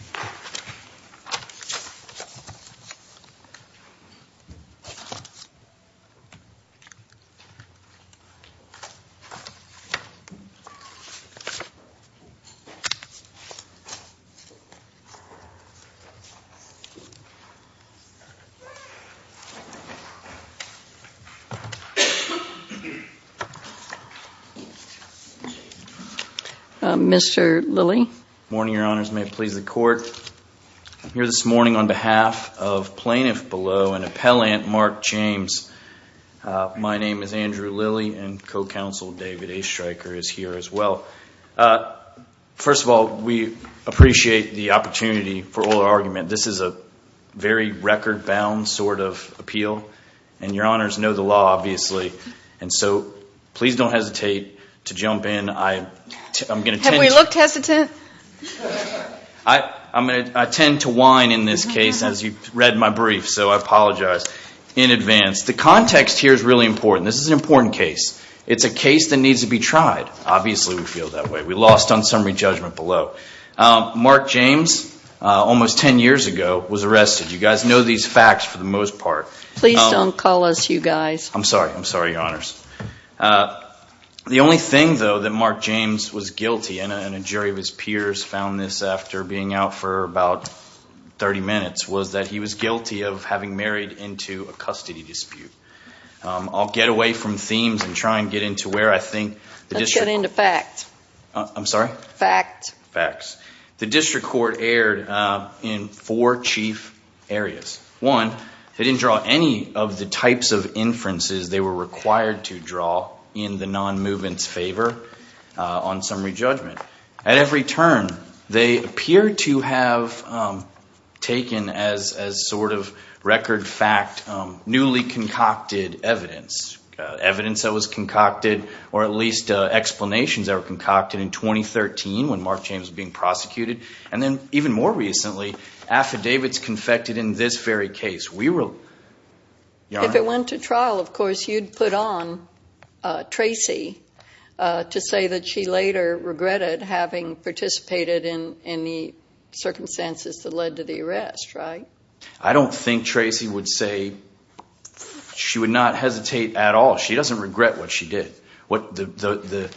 Mr. Lillie. Andrew Lillie Morning, Your Honors. May it please the Court. I'm here this morning on behalf of Plaintiff Below and Appellant Mark James. My name is Andrew Lillie, and co-counsel David A. Stryker is here as well. First of all, we appreciate the opportunity for oral argument. This is a very record-bound sort of appeal, and Your Honors know the law, obviously. And so please don't hesitate to jump in. I'm going to tend to— I'm going to tend to whine in this case, as you read my brief, so I apologize in advance. The context here is really important. This is an important case. It's a case that needs to be tried. Obviously we feel that way. We lost on summary judgment below. Mark James, almost 10 years ago, was arrested. You guys know these facts for the most part. Please don't call us you guys. I'm sorry. I'm sorry, Your Honors. The only thing, though, that Mark James was guilty—and a jury of his peers found this after being out for about 30 minutes—was that he was guilty of having married into a custody dispute. I'll get away from themes and try and get into where I think the district— Let's get into facts. I'm sorry? Facts. Facts. The district court erred in four chief areas. One, they didn't draw any of the types of inferences they were required to draw in the non-movement's favor on summary judgment. At every turn, they appear to have taken as sort of record fact newly concocted evidence. Evidence that was concocted, or at least explanations that were concocted in 2013 when Mark James was being prosecuted. And then even more recently, affidavits confected in this very case. We were— If it went to trial, of course, you'd put on Tracy to say that she later regretted having participated in the circumstances that led to the arrest, right? I don't think Tracy would say—she would not hesitate at all. She doesn't regret what she did. The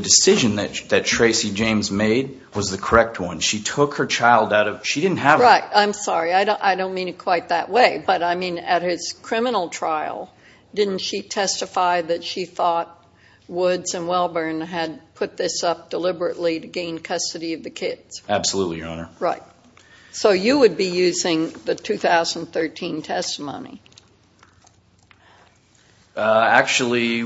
decision that Tracy James made was the correct one. She took her child out of—she didn't have a— Right. I'm sorry. I don't mean it quite that way. But, I mean, at his criminal trial, didn't she testify that she thought Woods and Welburn had put this up deliberately to gain custody of the kids? Absolutely, Your Honor. Right. So you would be using the 2013 testimony. Actually,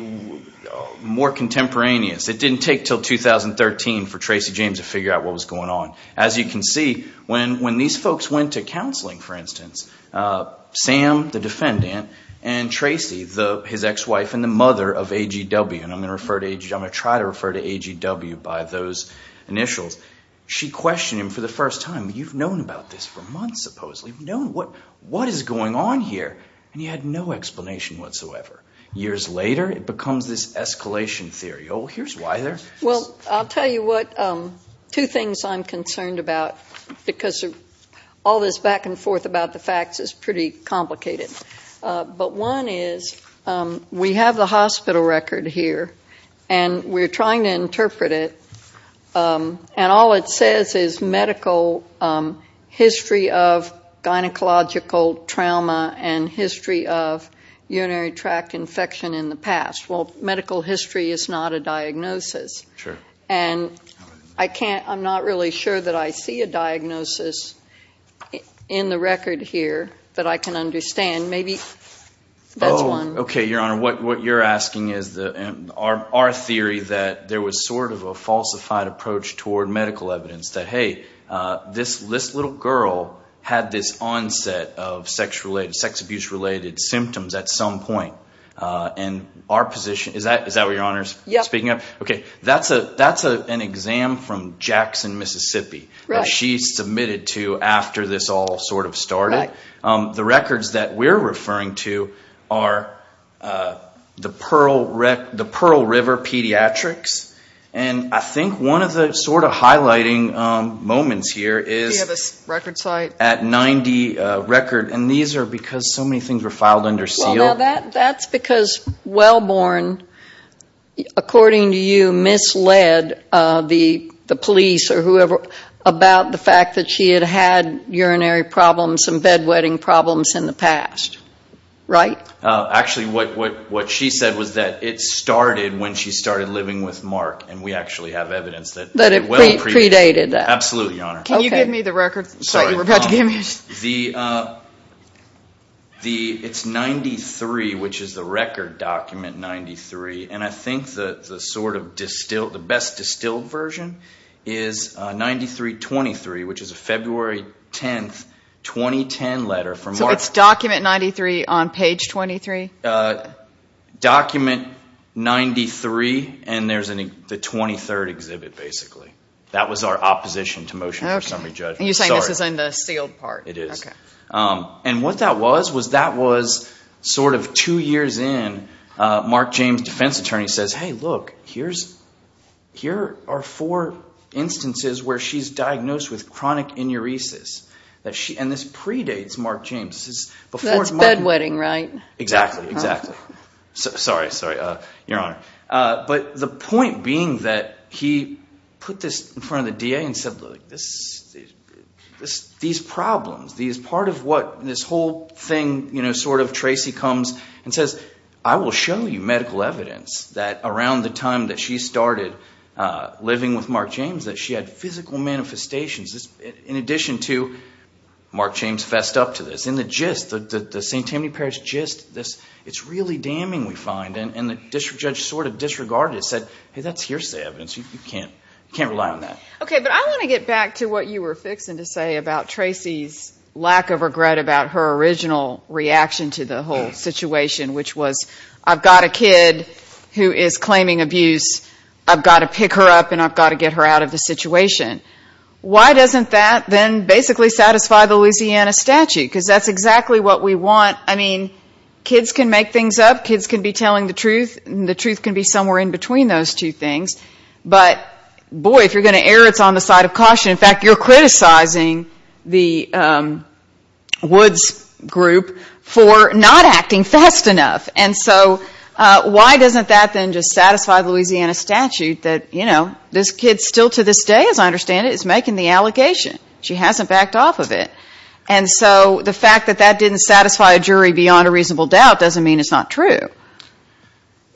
more contemporaneous. It didn't take until 2013 for Tracy James to figure out what was going on. As you can see, when these folks went to counseling, for instance, Sam, the defendant, and Tracy, his ex-wife and the mother of AGW—and I'm going to refer to AGW—I'm going to try to refer to AGW by those initials. She questioned him for the first time. You've known about this for months, supposedly. You've known what is going on here. And you had no explanation whatsoever. Years later, it becomes this escalation theory. Oh, here's why they're— Well, I'll tell you what—two things I'm concerned about, because all this back and forth about the facts is pretty complicated. But one is, we have the hospital record here, and we're trying to interpret it, and all it says is medical history of gynecological trauma and history of urinary tract infection in the past. Well, medical history is not a diagnosis. Sure. And I can't—I'm not really sure that I see a diagnosis in the record here that I can understand. Maybe that's one. Oh, okay, Your Honor. What you're asking is our theory that there was sort of a falsified approach toward medical evidence that, hey, this little girl had this onset of sex abuse-related symptoms at some point. And our position—is that what Your Honor is speaking of? Yes. Okay, that's an exam from Jackson, Mississippi that she submitted to after this all sort of started. Right. The records that we're referring to are the Pearl River Pediatrics. And I think one of the sort of highlighting moments here is— Do you have a record site? —at 90 record. And these are because so many things were filed under seal. Well, now, that's because Wellborn, according to you, misled the police or whoever about the fact that she had had urinary problems and bedwetting problems in the past. Right? Actually, what she said was that it started when she started living with Mark. And we actually have evidence that— That it predated that. Absolutely, Your Honor. Can you give me the record site you were about to give me? Sorry. It's 93, which is the record document 93. And I think the sort of best distilled version is 93-23, which is a February 10, 2010 letter from Mark. So it's document 93 on page 23? Document 93, and there's the 23rd exhibit, basically. That was our opposition to motion for summary judgment. Okay. And you're saying this is in the sealed part? It is. Okay. And what that was was that was sort of two years in, Mark James, defense attorney, says, hey, look, here are four instances where she's diagnosed with chronic enuresis. And this predates Mark James. That's bedwetting, right? Exactly. Exactly. Sorry. Sorry, Your Honor. But the point being that he put this in front of the DA and said, look, these problems, part of what this whole thing, you know, sort of Tracy comes and says, I will show you medical evidence that around the time that she started living with Mark James that she had physical manifestations, in addition to Mark James fessed up to this. And the gist, the St. Tammany Parish gist, it's really damning, we find. And the district judge sort of disregarded it, said, hey, that's hearsay evidence. You can't rely on that. Okay. But I want to get back to what you were fixing to say about Tracy's lack of regret about her original reaction to the whole situation, which was, I've got a kid who is claiming abuse, I've got to pick her up and I've got to get her out of the situation. Why doesn't that then basically satisfy the Louisiana statute? Because that's exactly what we want. I mean, kids can make things up, kids can be telling the truth, and the truth can be somewhere in between those two things. But, boy, if you're going to err, it's on the side of caution. In fact, you're criticizing the Woods group for not acting fast enough. And so why doesn't that then just satisfy the Louisiana statute that, you know, this kid still to this day, as I understand it, is making the allegation. She hasn't backed off of it. And so the fact that that didn't satisfy a jury beyond a reasonable doubt doesn't mean it's not true.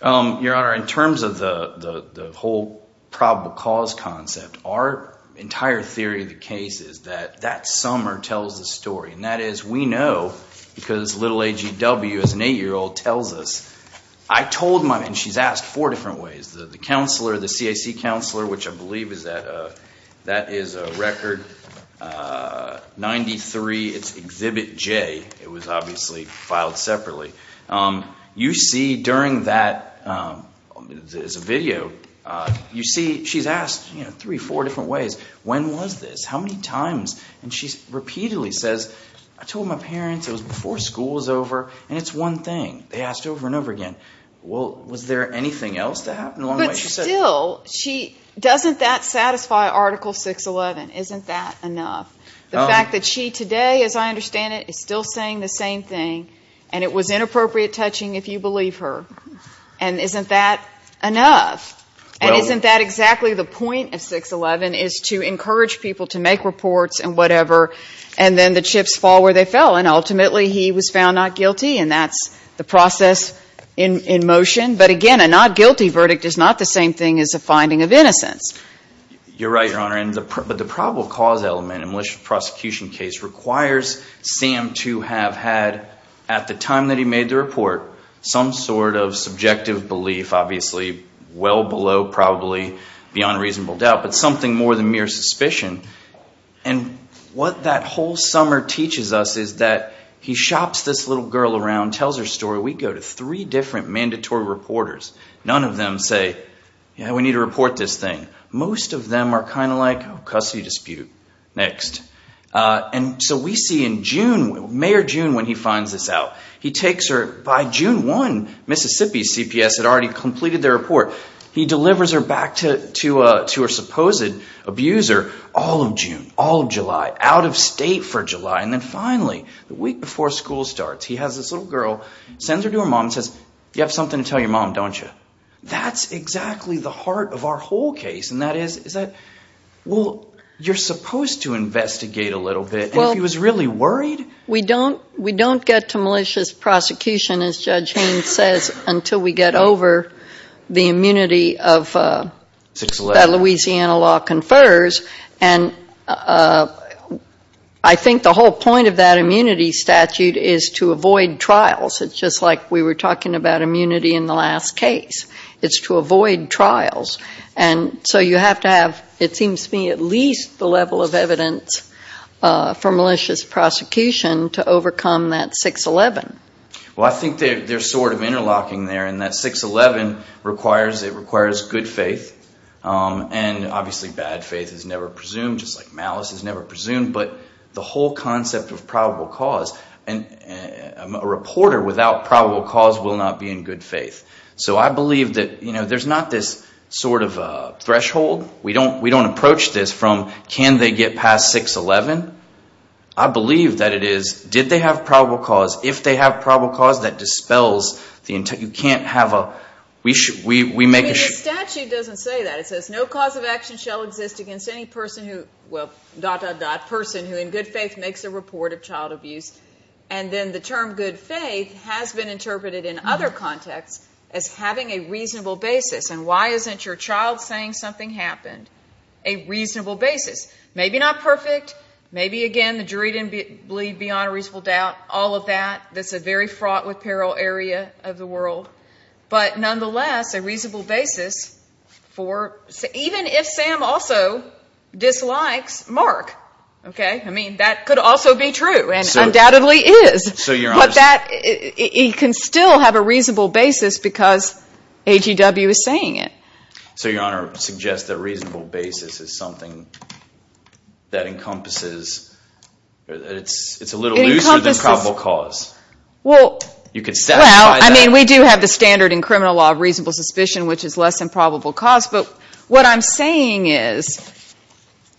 Your Honor, in terms of the whole probable cause concept, our entire theory of the case is that that summer tells the story. And that is, we know, because little A.G.W., as an 8-year-old, tells us, I told my mother, and she's asked four different ways. The counselor, the CAC counselor, which I believe is a record 93, it's Exhibit J. It was obviously filed separately. You see during that video, you see she's asked three, four different ways. When was this? How many times? And she repeatedly says, I told my parents, it was before school was over, and it's one thing. They asked over and over again. Well, was there anything else that happened along the way? But still, doesn't that satisfy Article 611? Isn't that enough? The fact that she today, as I understand it, is still saying the same thing, and it was inappropriate touching, if you believe her. And isn't that enough? And isn't that exactly the point of 611, is to encourage people to make reports and whatever, and then the chips fall where they fell? And ultimately, he was found not guilty, and that's the process in motion. But again, a not guilty verdict is not the same thing as a finding of innocence. You're right, Your Honor. But the probable cause element in a malicious prosecution case requires Sam to have had, at the time that he made the report, some sort of subjective belief, obviously well below, probably beyond reasonable doubt, but something more than mere suspicion. And what that whole summer teaches us is that he shops this little girl around, tells her story. We go to three different mandatory reporters. None of them say, yeah, we need to report this thing. Most of them are kind of like, oh, custody dispute. Next. And so we see in June, May or June, when he finds this out, he takes her. By June 1, Mississippi's CPS had already completed their report. He delivers her back to her supposed abuser all of June, all of July, out of state for July, and then finally, the week before school starts, he has this little girl, sends her to her mom and says, you have something to tell your mom, don't you? That's exactly the heart of our whole case, and that is, is that, well, you're supposed to investigate a little bit, and if he was really worried? We don't get to malicious prosecution, as Judge Haynes says, until we get over the immunity of, that Louisiana law confers. And I think the whole point of that immunity statute is to avoid trials. It's just like we were talking about immunity in the last case. It's to avoid trials. And so you have to have, it seems to me, at least the level of evidence for malicious prosecution to overcome that 611. Well, I think they're sort of interlocking there, and that 611 requires good faith, and obviously bad faith is never presumed, just like malice is never presumed, but the whole concept of probable cause, and a reporter without probable cause will not be in good faith. So I believe that, you know, there's not this sort of threshold. We don't approach this from, can they get past 611? I believe that it is, did they have probable cause? If they have probable cause, that dispels the, you can't have a, we make a... I mean, the statute doesn't say that. It says, no cause of action shall exist against any person who, well, dot, dot, dot, person who in good faith makes a report of child abuse. And then the term good faith has been interpreted in other contexts as having a reasonable basis, and why isn't your child saying something happened a reasonable basis? Maybe not perfect. Maybe, again, the jury didn't bleed beyond a reasonable doubt, all of that. That's a very fraught with peril area of the world. But nonetheless, a reasonable basis for, even if Sam also dislikes Mark, okay? I mean, that could also be true, and undoubtedly is. But that, he can still have a reasonable basis because AGW is saying it. So your Honor suggests that a reasonable basis is something that encompasses, it's a little looser than probable cause. Well, I mean, we do have the standard in criminal law of reasonable suspicion, which is less than probable cause. But what I'm saying is,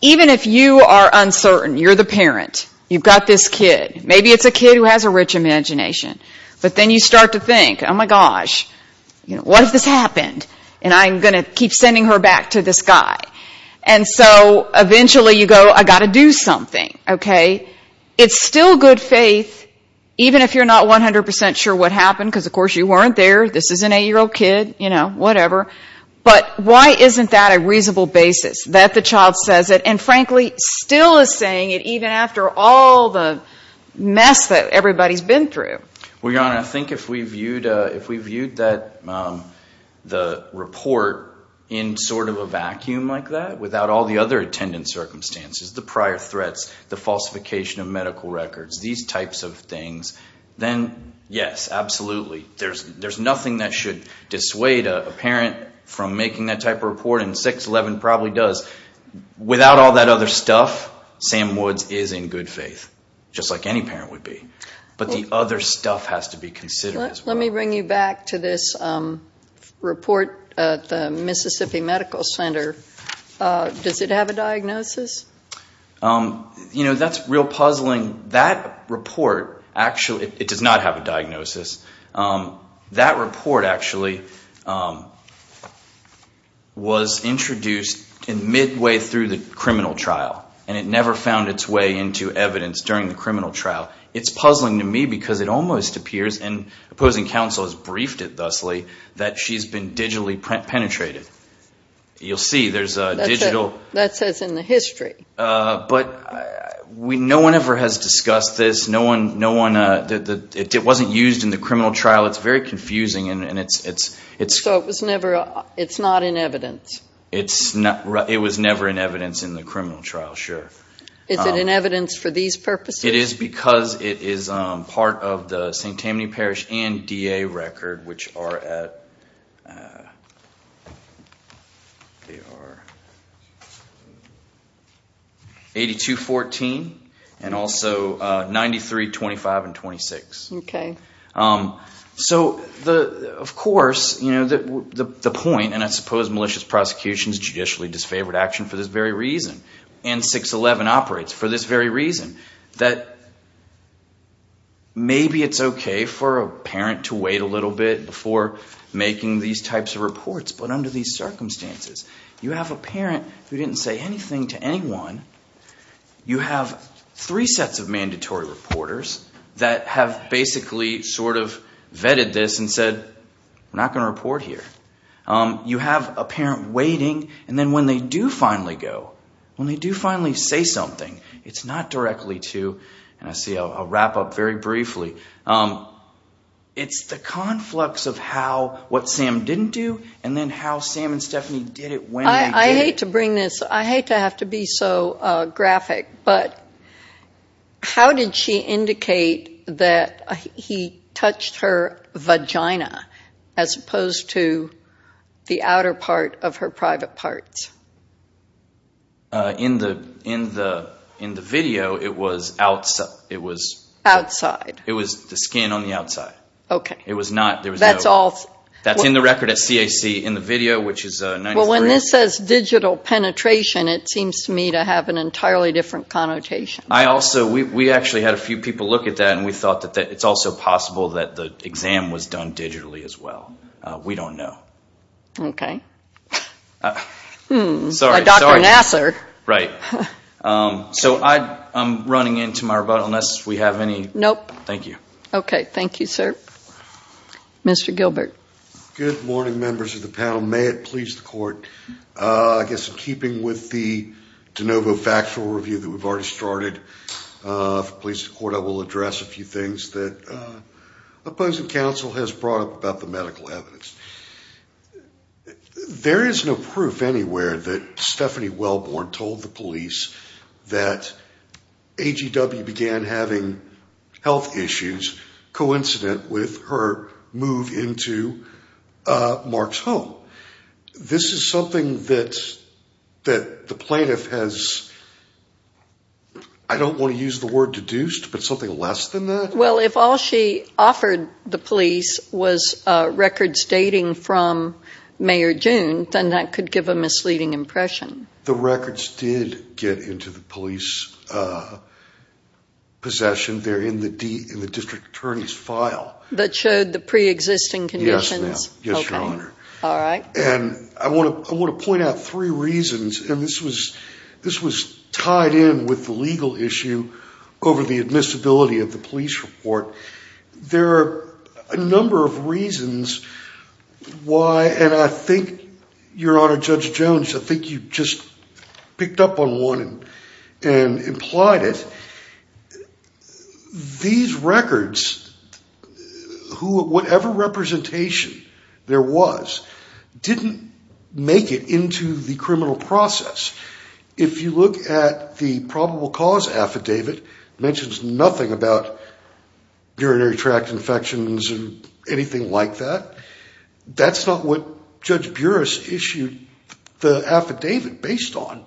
even if you are uncertain, you're the parent. You've got this kid. Maybe it's a kid who has a rich imagination. But then you start to think, oh, my gosh, what if this happened? And I'm going to keep sending her back to this guy. And so eventually you go, I've got to do something, okay? It's still good faith, even if you're not 100% sure what happened, because, of course, you weren't there. This is an 8-year-old kid, you know, whatever. But why isn't that a reasonable basis, that the child says it, and frankly still is saying it even after all the mess that everybody's been through? Well, Your Honor, I think if we viewed that report in sort of a vacuum like that, without all the other attendant circumstances, the prior threats, the falsification of medical records, these types of things, then yes, absolutely. There's nothing that should dissuade a parent from making that type of report, and 6-11 probably does. Without all that other stuff, Sam Woods is in good faith, just like any parent would be. But the other stuff has to be considered as well. Let me bring you back to this report at the Mississippi Medical Center. Does it have a diagnosis? You know, that's real puzzling. That report actually does not have a diagnosis. That report actually was introduced midway through the criminal trial, and it never found its way into evidence during the criminal trial. It's puzzling to me because it almost appears, and opposing counsel has briefed it thusly, that she's been digitally penetrated. You'll see there's a digital. That says in the history. But no one ever has discussed this. It wasn't used in the criminal trial. It's very confusing. So it's not in evidence? It was never in evidence in the criminal trial, sure. Is it in evidence for these purposes? It is because it is part of the St. Tammany Parish and DA record, which are at 82-14, and also 93-25 and 26. Okay. So, of course, the point, and I suppose malicious prosecution is judicially disfavored action for this very reason, and 611 operates for this very reason, that maybe it's okay for a parent to wait a little bit before making these types of reports. But under these circumstances, you have a parent who didn't say anything to anyone. You have three sets of mandatory reporters that have basically sort of vetted this and said, we're not going to report here. You have a parent waiting, and then when they do finally go, when they do finally say something, it's not directly to, and I see a wrap-up very briefly, it's the conflux of what Sam didn't do and then how Sam and Stephanie did it when they did it. I hate to bring this. I hate to have to be so graphic. But how did she indicate that he touched her vagina as opposed to the outer part of her private parts? In the video, it was outside. Outside. It was the skin on the outside. Okay. It was not, there was no. That's all. That's in the record at CAC in the video, which is 93. When this says digital penetration, it seems to me to have an entirely different connotation. I also, we actually had a few people look at that, and we thought that it's also possible that the exam was done digitally as well. We don't know. Okay. Like Dr. Nasser. Right. So I'm running into my rebuttal unless we have any. Nope. Thank you. Okay. Thank you, sir. Mr. Gilbert. Good morning, members of the panel. May it please the court. I guess in keeping with the de novo factual review that we've already started, if it pleases the court, I will address a few things that opposing counsel has brought up about the medical evidence. There is no proof anywhere that Stephanie Wellborn told the police that AGW began having health issues coincident with her move into Mark's home. This is something that the plaintiff has, I don't want to use the word deduced, but something less than that? Well, if all she offered the police was records dating from May or June, then that could give a misleading impression. The records did get into the police possession. They're in the district attorney's file. That showed the preexisting conditions? Yes, ma'am. Yes, Your Honor. All right. And I want to point out three reasons, and this was tied in with the legal issue over the admissibility of the police report. There are a number of reasons why, and I think, Your Honor, Judge Jones, I think you just picked up on one and implied it. These records, whatever representation there was, didn't make it into the criminal process. If you look at the probable cause affidavit, it mentions nothing about urinary tract infections or anything like that. That's not what Judge Buras issued the affidavit based on.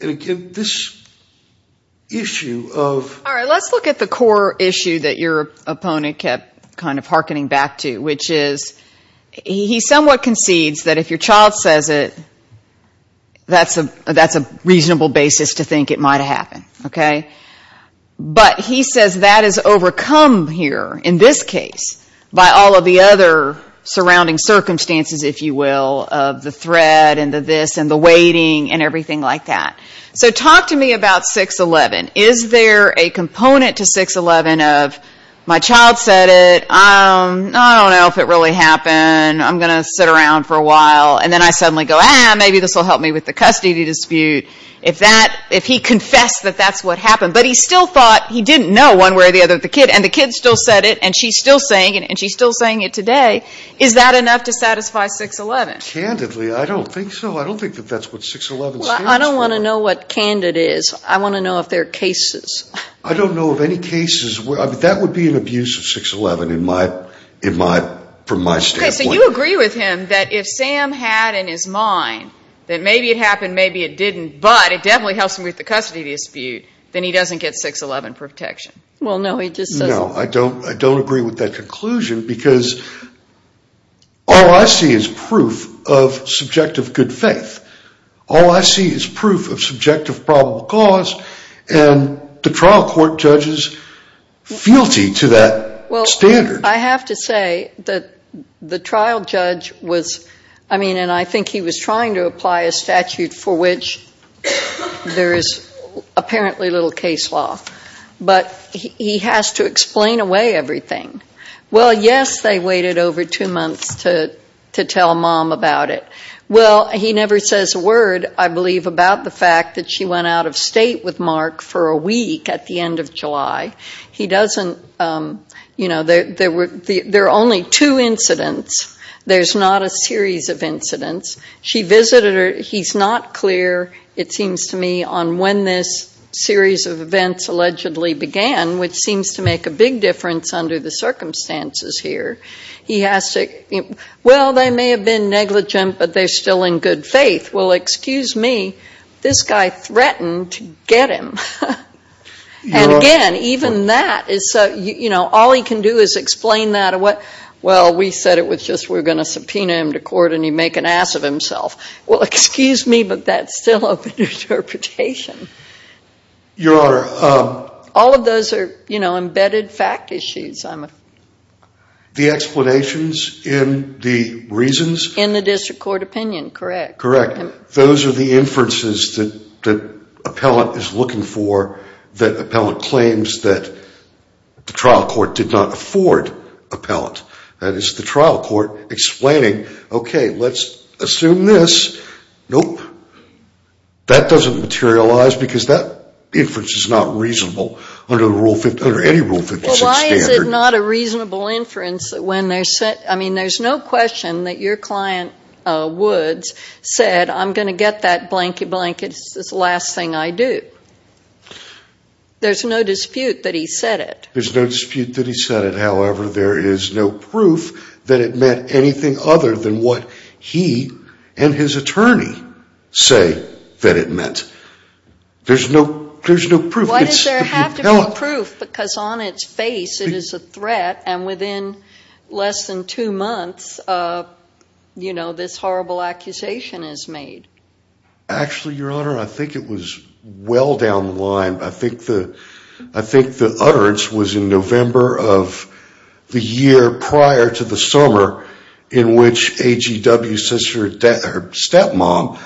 And again, this issue of... All right, let's look at the core issue that your opponent kept kind of hearkening back to, which is he somewhat concedes that if your child says it, that's a reasonable basis to think it might have happened, okay? But he says that is overcome here, in this case, by all of the other surrounding circumstances, if you will, of the threat and the this and the waiting and everything like that. So talk to me about 611. Is there a component to 611 of my child said it, I don't know if it really happened, I'm going to sit around for a while, and then I suddenly go, ah, maybe this will help me with the custody dispute. If he confessed that that's what happened, but he still thought he didn't know one way or the other that the kid, and the kid still said it, and she's still saying it today, is that enough to satisfy 611? Candidly, I don't think so. I don't think that that's what 611 states. Well, I don't want to know what candid is. I want to know if there are cases. I don't know of any cases. That would be an abuse of 611 in my, from my standpoint. Okay, so you agree with him that if Sam had in his mind that maybe it happened, maybe it didn't, but it definitely helps him with the custody dispute, then he doesn't get 611 protection. Well, no, he just doesn't. No, I don't agree with that conclusion, because all I see is proof of subjective good faith. All I see is proof of subjective probable cause, and the trial court judges fealty to that standard. Well, I have to say that the trial judge was, I mean, and I think he was trying to apply a statute for which there is apparently little case law, but he has to explain away everything. Well, yes, they waited over two months to tell mom about it. Well, he never says a word, I believe, about the fact that she went out of state with Mark for a week at the end of July. He doesn't, you know, there are only two incidents. There's not a series of incidents. She visited her. He's not clear, it seems to me, on when this series of events allegedly began, which seems to make a big difference under the circumstances here. He has to, well, they may have been negligent, but they're still in good faith. Well, excuse me, this guy threatened to get him. And again, even that is, you know, all he can do is explain that, well, we said it was just we're going to subpoena him to court and he'd make an ass of himself. Well, excuse me, but that's still open to interpretation. Your Honor. All of those are, you know, embedded fact issues. The explanations in the reasons? In the district court opinion, correct. Correct. Those are the inferences that appellant is looking for, that appellant claims that the trial court did not afford appellant. That is the trial court explaining, okay, let's assume this. Nope. That doesn't materialize because that inference is not reasonable under any Rule 56 standard. Well, why is it not a reasonable inference when they're set? I mean, there's no question that your client Woods said, I'm going to get that blanky-blank. It's the last thing I do. There's no dispute that he said it. There's no dispute that he said it. However, there is no proof that it meant anything other than what he and his attorney say that it meant. There's no proof. Why does there have to be proof? Because on its face, it is a threat. And within less than two months, you know, this horrible accusation is made. Actually, Your Honor, I think it was well down the line. I think the utterance was in November of the year prior to the summer in which AGW says to her stepmom,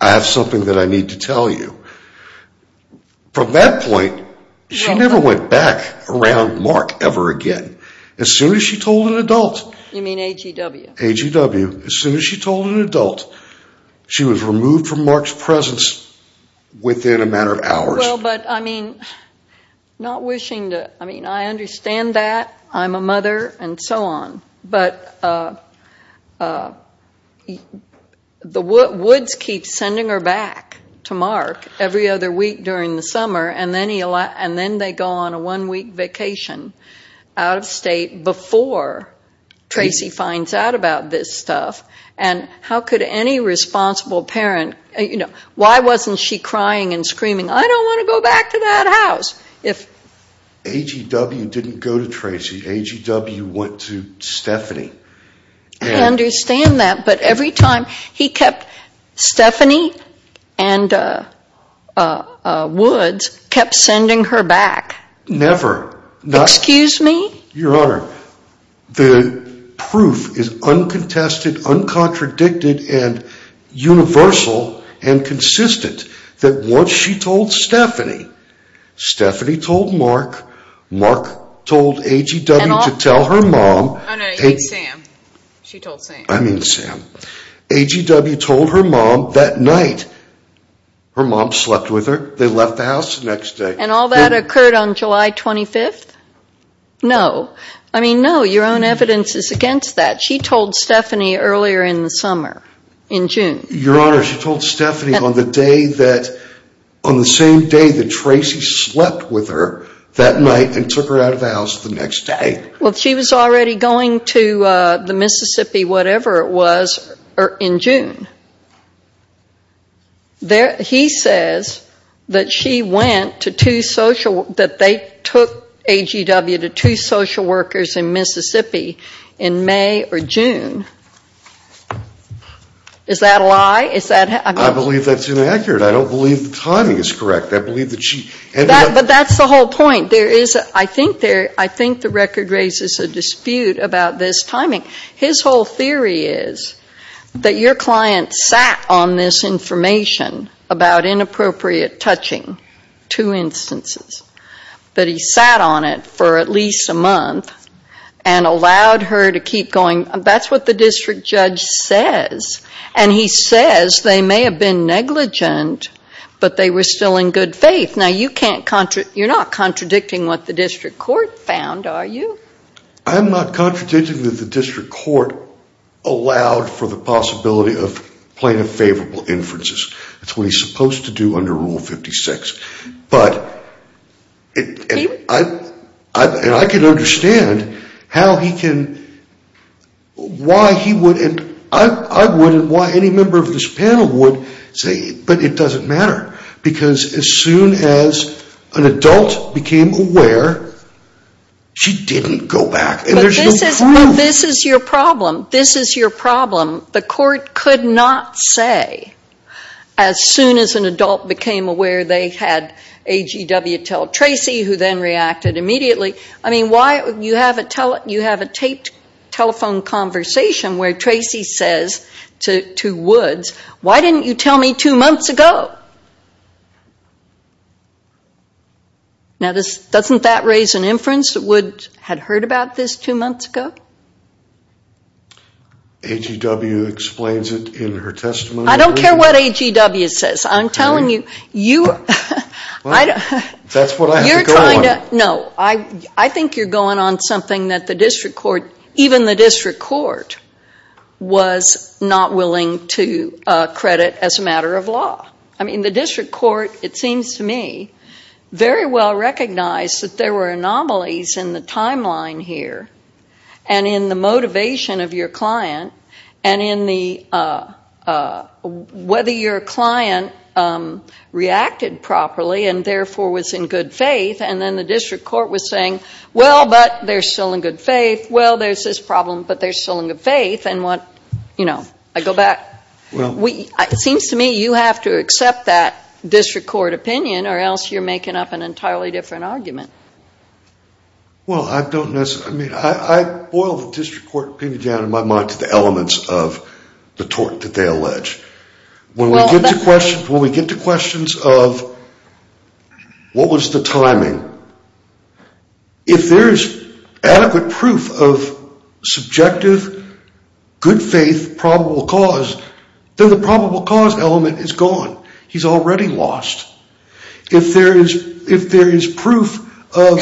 I have something that I need to tell you. From that point, she never went back around Mark ever again. As soon as she told an adult. You mean AGW? AGW. As soon as she told an adult, she was removed from Mark's presence within a matter of hours. Well, but I mean, not wishing to. I mean, I understand that. I'm a mother and so on. But Woods keeps sending her back to Mark every other week during the summer, and then they go on a one-week vacation out of state before Tracy finds out about this stuff. And how could any responsible parent, you know, why wasn't she crying and screaming, I don't want to go back to that house? AGW didn't go to Tracy. AGW went to Stephanie. I understand that. But every time he kept Stephanie and Woods kept sending her back. Never. Excuse me? Your Honor, the proof is uncontested, uncontradicted, and universal and consistent that once she told Stephanie, Stephanie told Mark, Mark told AGW to tell her mom. Oh, no, you mean Sam. She told Sam. I mean Sam. AGW told her mom that night her mom slept with her. They left the house the next day. And all that occurred on July 25th? No. I mean, no, your own evidence is against that. She told Stephanie earlier in the summer, in June. Your Honor, she told Stephanie on the day that, on the same day that Tracy slept with her that night and took her out of the house the next day. Well, she was already going to the Mississippi, whatever it was, in June. He says that she went to two social, that they took AGW to two social workers in Mississippi in May or June. Is that a lie? I believe that's inaccurate. I don't believe the timing is correct. But that's the whole point. I think the record raises a dispute about this timing. His whole theory is that your client sat on this information about inappropriate touching, two instances, that he sat on it for at least a month and allowed her to keep going. That's what the district judge says. And he says they may have been negligent, but they were still in good faith. Now, you're not contradicting what the district court found, are you? I'm not contradicting that the district court allowed for the possibility of plain and favorable inferences. That's what he's supposed to do under Rule 56. But I can understand how he can, why he wouldn't, I wouldn't, why any member of this panel would say, but it doesn't matter. Because as soon as an adult became aware, she didn't go back. And there's no proof. But this is your problem. This is your problem. The court could not say, as soon as an adult became aware they had AGW tell Tracy, who then reacted immediately, I mean, you have a taped telephone conversation where Tracy says to Woods, why didn't you tell me two months ago? Now, doesn't that raise an inference that Woods had heard about this two months ago? AGW explains it in her testimony. I don't care what AGW says. I'm telling you, you're trying to, no, I think you're going on something that the district court, even the district court, was not willing to credit as a matter of law. I mean, the district court, it seems to me, very well recognized that there were anomalies in the timeline here and in the motivation of your client and in the, whether your client reacted properly and therefore was in good faith. And then the district court was saying, well, but they're still in good faith. Well, there's this problem, but they're still in good faith. And what, you know, I go back. It seems to me you have to accept that district court opinion or else you're Well, I don't necessarily, I mean, I boil the district court opinion down in my mind to the elements of the tort that they allege. When we get to questions, when we get to questions of what was the timing? If there is adequate proof of subjective, good faith, probable cause, then the probable cause element is gone. He's already lost. If there is proof of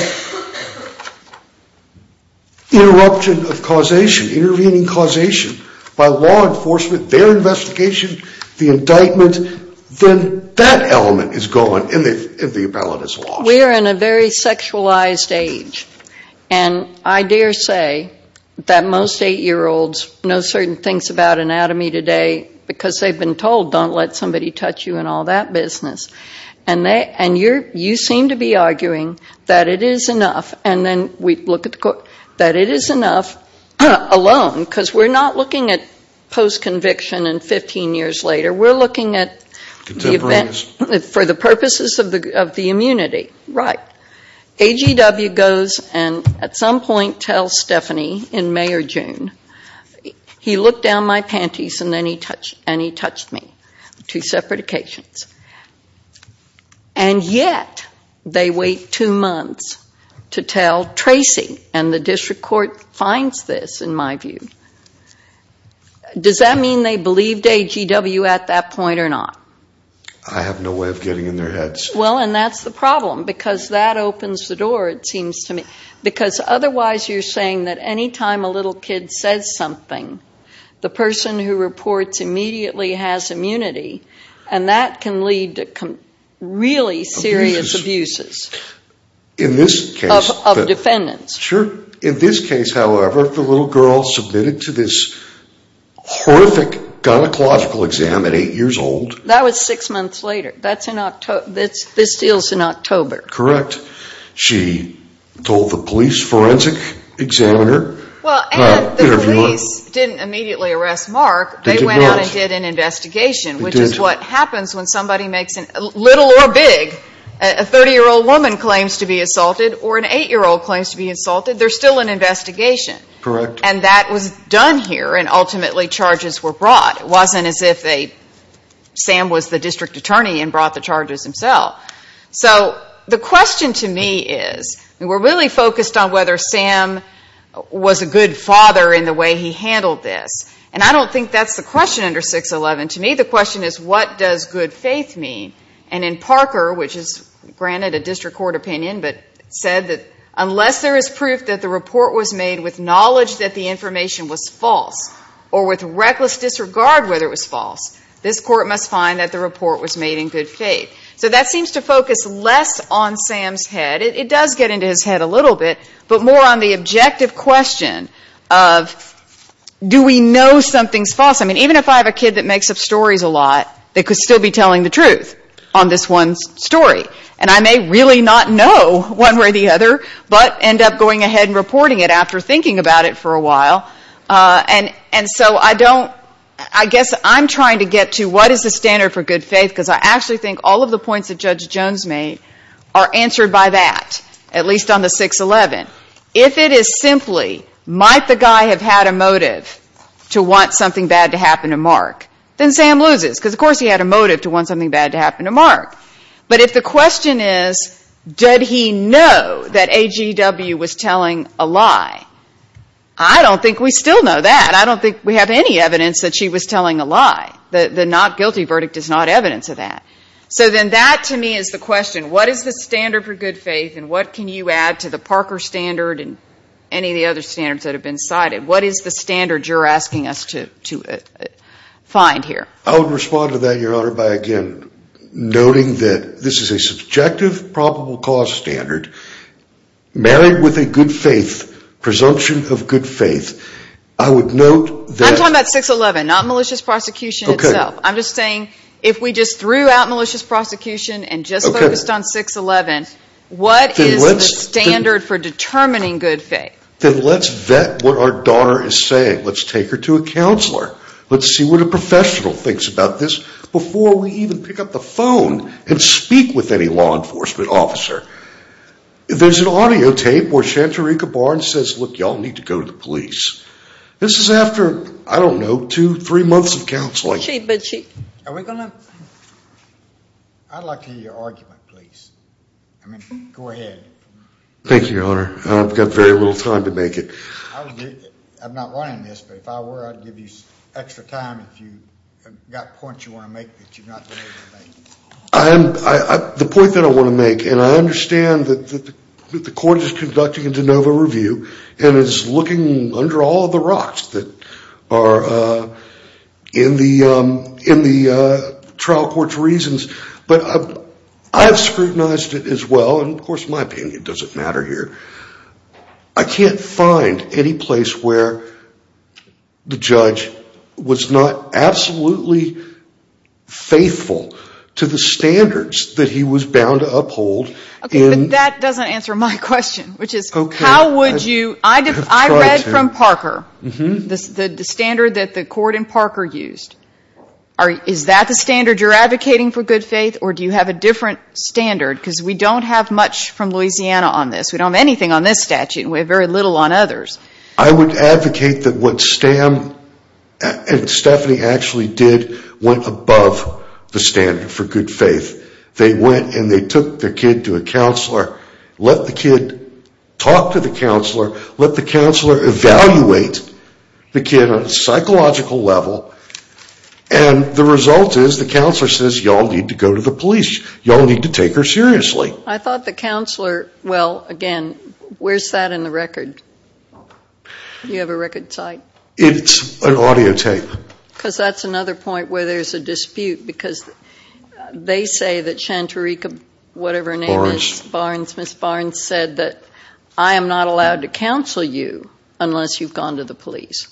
interruption of causation, intervening causation by law enforcement, their investigation, the indictment, then that element is gone and the appellate is lost. We are in a very sexualized age. And I dare say that most eight-year-olds know certain things about anatomy today because they've been told don't let somebody touch you and all that business. And you seem to be arguing that it is enough, and then we look at the court, that it is enough alone because we're not looking at post-conviction and 15 years later. We're looking at the event for the purposes of the immunity. Right. AGW goes and at some point tells Stephanie in May or June, he looked down at my panties and he touched me. Two separate occasions. And yet they wait two months to tell Tracy, and the district court finds this, in my view. Does that mean they believed AGW at that point or not? I have no way of getting in their heads. Well, and that's the problem because that opens the door, it seems to me. Because otherwise you're saying that any time a little kid says something, the person who reports immediately has immunity, and that can lead to really serious abuses. In this case. Of defendants. Sure. In this case, however, the little girl submitted to this horrific gynecological exam at eight years old. That was six months later. That's in October. This deal's in October. Correct. She told the police forensic examiner. Well, and the police didn't immediately arrest Mark. They did not. They went out and did an investigation, which is what happens when somebody makes a little or big, a 30-year-old woman claims to be assaulted or an eight-year-old claims to be assaulted, there's still an investigation. Correct. And that was done here, and ultimately charges were brought. It wasn't as if Sam was the district attorney and brought the charges himself. So the question to me is, we're really focused on whether Sam was a good father in the way he handled this, and I don't think that's the question under 611. To me, the question is, what does good faith mean? And in Parker, which is, granted, a district court opinion, but said that unless there is proof that the report was made with knowledge that the information was false or with reckless disregard whether it was false, this court must find that the report was made in good faith. So that seems to focus less on Sam's head. It does get into his head a little bit, but more on the objective question of, do we know something's false? I mean, even if I have a kid that makes up stories a lot, they could still be telling the truth on this one story. And I may really not know one way or the other, but end up going ahead and reporting it after thinking about it for a while. And so I don't, I guess I'm trying to get to what is the standard for good faith, and all of the points that Judge Jones made are answered by that, at least on the 611. If it is simply, might the guy have had a motive to want something bad to happen to Mark, then Sam loses, because of course he had a motive to want something bad to happen to Mark. But if the question is, did he know that AGW was telling a lie, I don't think we still know that. I don't think we have any evidence that she was telling a lie. The not guilty verdict is not evidence of that. So then that, to me, is the question. What is the standard for good faith, and what can you add to the Parker standard and any of the other standards that have been cited? What is the standard you're asking us to find here? I would respond to that, Your Honor, by, again, noting that this is a subjective probable cause standard, married with a good faith, presumption of good faith. I'm talking about 611, not malicious prosecution itself. I'm just saying, if we just threw out malicious prosecution and just focused on 611, what is the standard for determining good faith? Then let's vet what our daughter is saying. Let's take her to a counselor. Let's see what a professional thinks about this before we even pick up the phone and speak with any law enforcement officer. There's an audio tape where Shantarika Barnes says, look, y'all need to go to the police. This is after, I don't know, two, three months of counseling. Chief, are we going to? I'd like to hear your argument, please. I mean, go ahead. Thank you, Your Honor. I've got very little time to make it. I'm not running this, but if I were, I'd give you extra time if you've got points you want to make that you're not able to make. The point that I want to make, and I understand that the court is under all the rocks that are in the trial court's reasons, but I've scrutinized it as well, and of course my opinion doesn't matter here. I can't find any place where the judge was not absolutely faithful to the standards that he was bound to uphold. Okay, but that doesn't answer my question, which is how would you? I read from Parker the standard that the court in Parker used. Is that the standard you're advocating for good faith, or do you have a different standard? Because we don't have much from Louisiana on this. We don't have anything on this statute, and we have very little on others. I would advocate that what Stan and Stephanie actually did went above the standard for good faith. They went and they took their kid to a counselor, let the kid talk to the counselor, let the counselor evaluate the kid on a psychological level, and the result is the counselor says you all need to go to the police. You all need to take her seriously. I thought the counselor, well, again, where's that in the record? Do you have a record site? It's an audio tape. Because that's another point where there's a dispute, because they say that Shantarica, whatever her name is, Barnes, Ms. Barnes said that I am not allowed to counsel you unless you've gone to the police.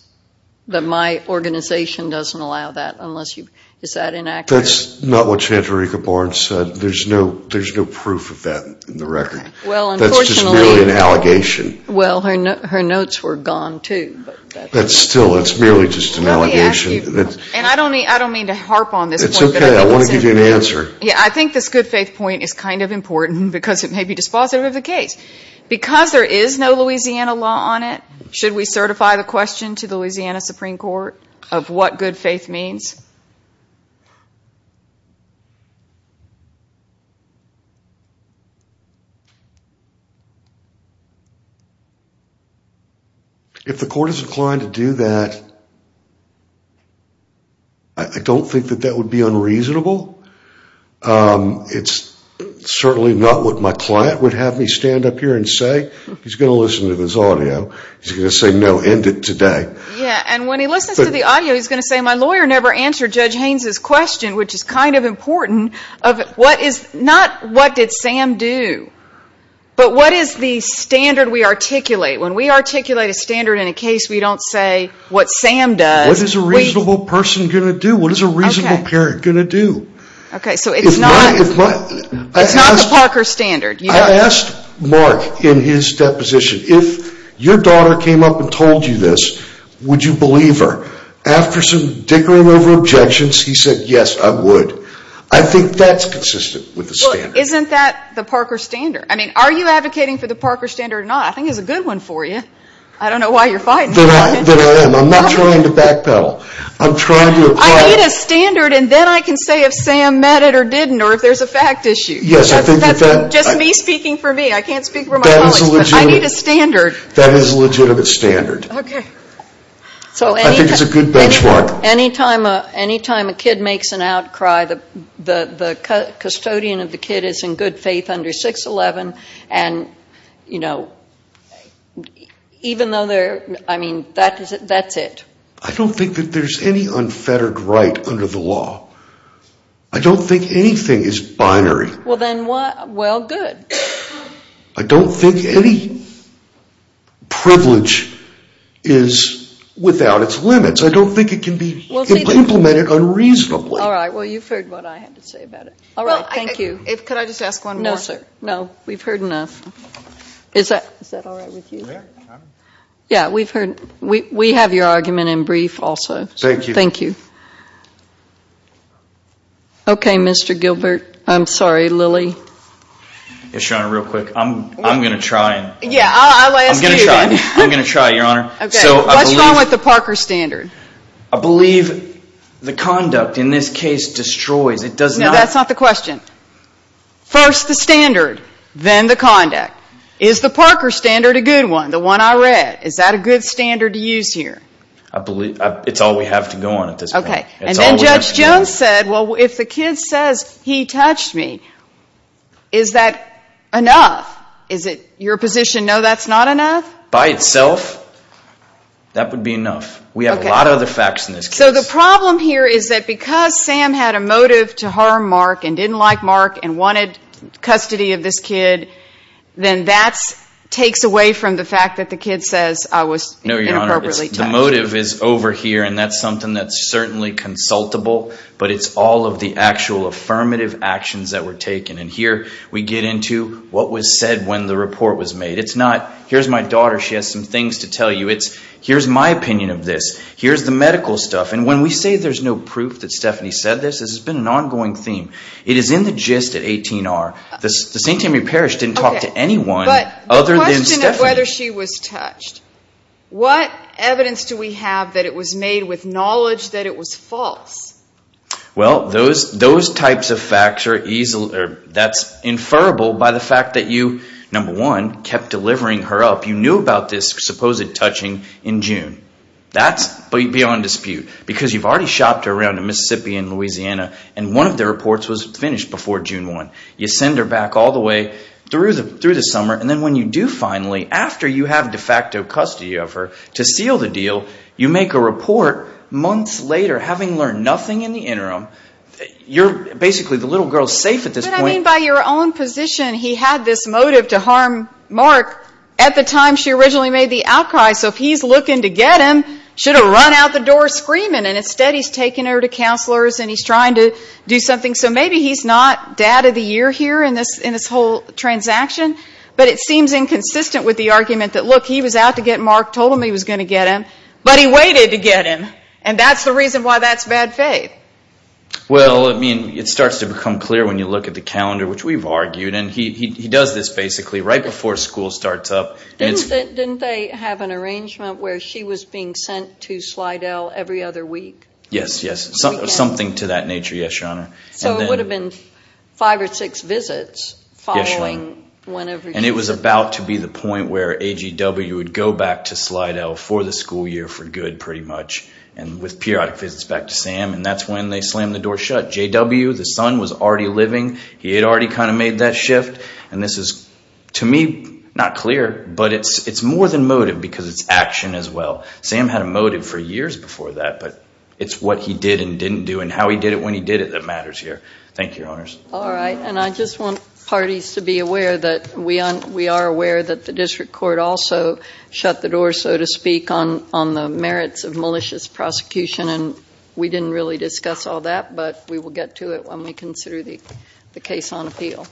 That my organization doesn't allow that unless you've, is that inaccurate? That's not what Shantarica Barnes said. There's no proof of that in the record. That's just merely an allegation. Well, her notes were gone, too. That's still, it's merely just an allegation. Let me ask you, and I don't mean to harp on this point. It's okay, I want to give you an answer. Yeah, I think this good faith point is kind of important because it may be dispositive of the case. Because there is no Louisiana law on it, should we certify the question to the Louisiana Supreme Court of what good faith means? If the court is inclined to do that, I don't think that that would be unreasonable. It's certainly not what my client would have me stand up here and say. He's going to listen to this audio. He's going to say, no, end it today. Yeah, and when he listens to the audio, he's going to say, my lawyer never answered Judge Haynes' question, which is kind of important of what is, not what did Sam do, but what is the standard we articulate? When we articulate a standard in a case, we don't say what Sam does. What is a reasonable person going to do? What is a reasonable parent going to do? Okay, so it's not the Parker standard. I asked Mark in his deposition, if your daughter came up and told you this, would you believe her? After some dickering over objections, he said, yes, I would. I think that's consistent with the standard. Well, isn't that the Parker standard? I mean, are you advocating for the Parker standard or not? I think it's a good one for you. I don't know why you're fighting for it. I'm not trying to backpedal. I'm trying to apply it. I need a standard, and then I can say if Sam met it or didn't, or if there's a fact issue. Yes, I think with that. That's just me speaking for me. I can't speak for my colleagues. That is a legitimate. I need a standard. That is a legitimate standard. Okay. I think it's a good benchmark. Any time a kid makes an outcry, the custodian of the kid is in good faith under 611, and, you know, even though they're, I mean, that's it. I don't think that there's any unfettered right under the law. I don't think anything is binary. Well, then what? Well, good. I don't think any privilege is without its limits. I don't think it can be implemented unreasonably. All right. Well, you've heard what I had to say about it. All right. Thank you. Could I just ask one more? No, sir. No. We've heard enough. Is that all right with you? Yeah. Yeah, we've heard. We have your argument in brief also. Thank you. Thank you. Okay, Mr. Gilbert. I'm sorry, Lilly. Yes, Your Honor, real quick. I'm going to try. Yeah, I'll ask you then. I'm going to try. I'm going to try, Your Honor. Okay. What's wrong with the Parker standard? I believe the conduct in this case destroys. It does not. No, that's not the question. First the standard, then the conduct. Is the Parker standard a good one? The one I read, is that a good standard to use here? It's all we have to go on at this point. Okay. And then Judge Jones said, well, if the kid says, he touched me, is that enough? Is it your position, no, that's not enough? By itself, that would be enough. We have a lot of other facts in this case. So the problem here is that because Sam had a motive to harm Mark and didn't like Mark and wanted custody of this kid, then that takes away from the fact that the kid says I was inappropriately touched. No, Your Honor. The motive is over here, and that's something that's certainly consultable, but it's all of the actual affirmative actions that were taken. And here we get into what was said when the report was made. It's not, here's my daughter, she has some things to tell you. It's, here's my opinion of this. Here's the medical stuff. And when we say there's no proof that Stephanie said this, this has been an ongoing theme. It is in the gist at 18R. The St. Tammy Parish didn't talk to anyone other than Stephanie. But the question of whether she was touched. What evidence do we have that it was made with knowledge that it was false? Well, those types of facts are easily, that's inferable by the fact that you, number one, kept delivering her up. You knew about this supposed touching in June. That's beyond dispute because you've already shopped her around in Mississippi and Louisiana, and one of the reports was finished before June 1. You send her back all the way through the summer, and then when you do finally, after you have de facto custody of her to seal the deal, you make a report months later, having learned nothing in the interim. You're basically the little girl safe at this point. But I mean by your own position, he had this motive to harm Mark at the time she originally made the outcry. So if he's looking to get him, should have run out the door screaming. And instead he's taking her to counselors and he's trying to do something. So maybe he's not dad of the year here in this whole transaction, but it seems inconsistent with the argument that, look, he was out to get Mark, told him he was going to get him, but he waited to get him, and that's the reason why that's bad faith. Well, I mean, it starts to become clear when you look at the calendar, which we've argued, and he does this basically right before school starts up. Didn't they have an arrangement where she was being sent to Slidell every other week? Yes, yes, something to that nature, yes, Your Honor. So it would have been five or six visits following whenever she was sent. And it was about to be the point where AGW would go back to Slidell for the school year for good pretty much, and with periodic visits back to Sam, and that's when they slammed the door shut. J.W., the son, was already living. He had already kind of made that shift. And this is, to me, not clear, but it's more than motive because it's action as well. Sam had a motive for years before that, but it's what he did and didn't do and how he did it when he did it that matters here. Thank you, Your Honors. All right, and I just want parties to be aware that we are aware that the district court also shut the door, so to speak, on the merits of malicious prosecution, and we didn't really discuss all that, but we will get to it when we consider the case on appeal.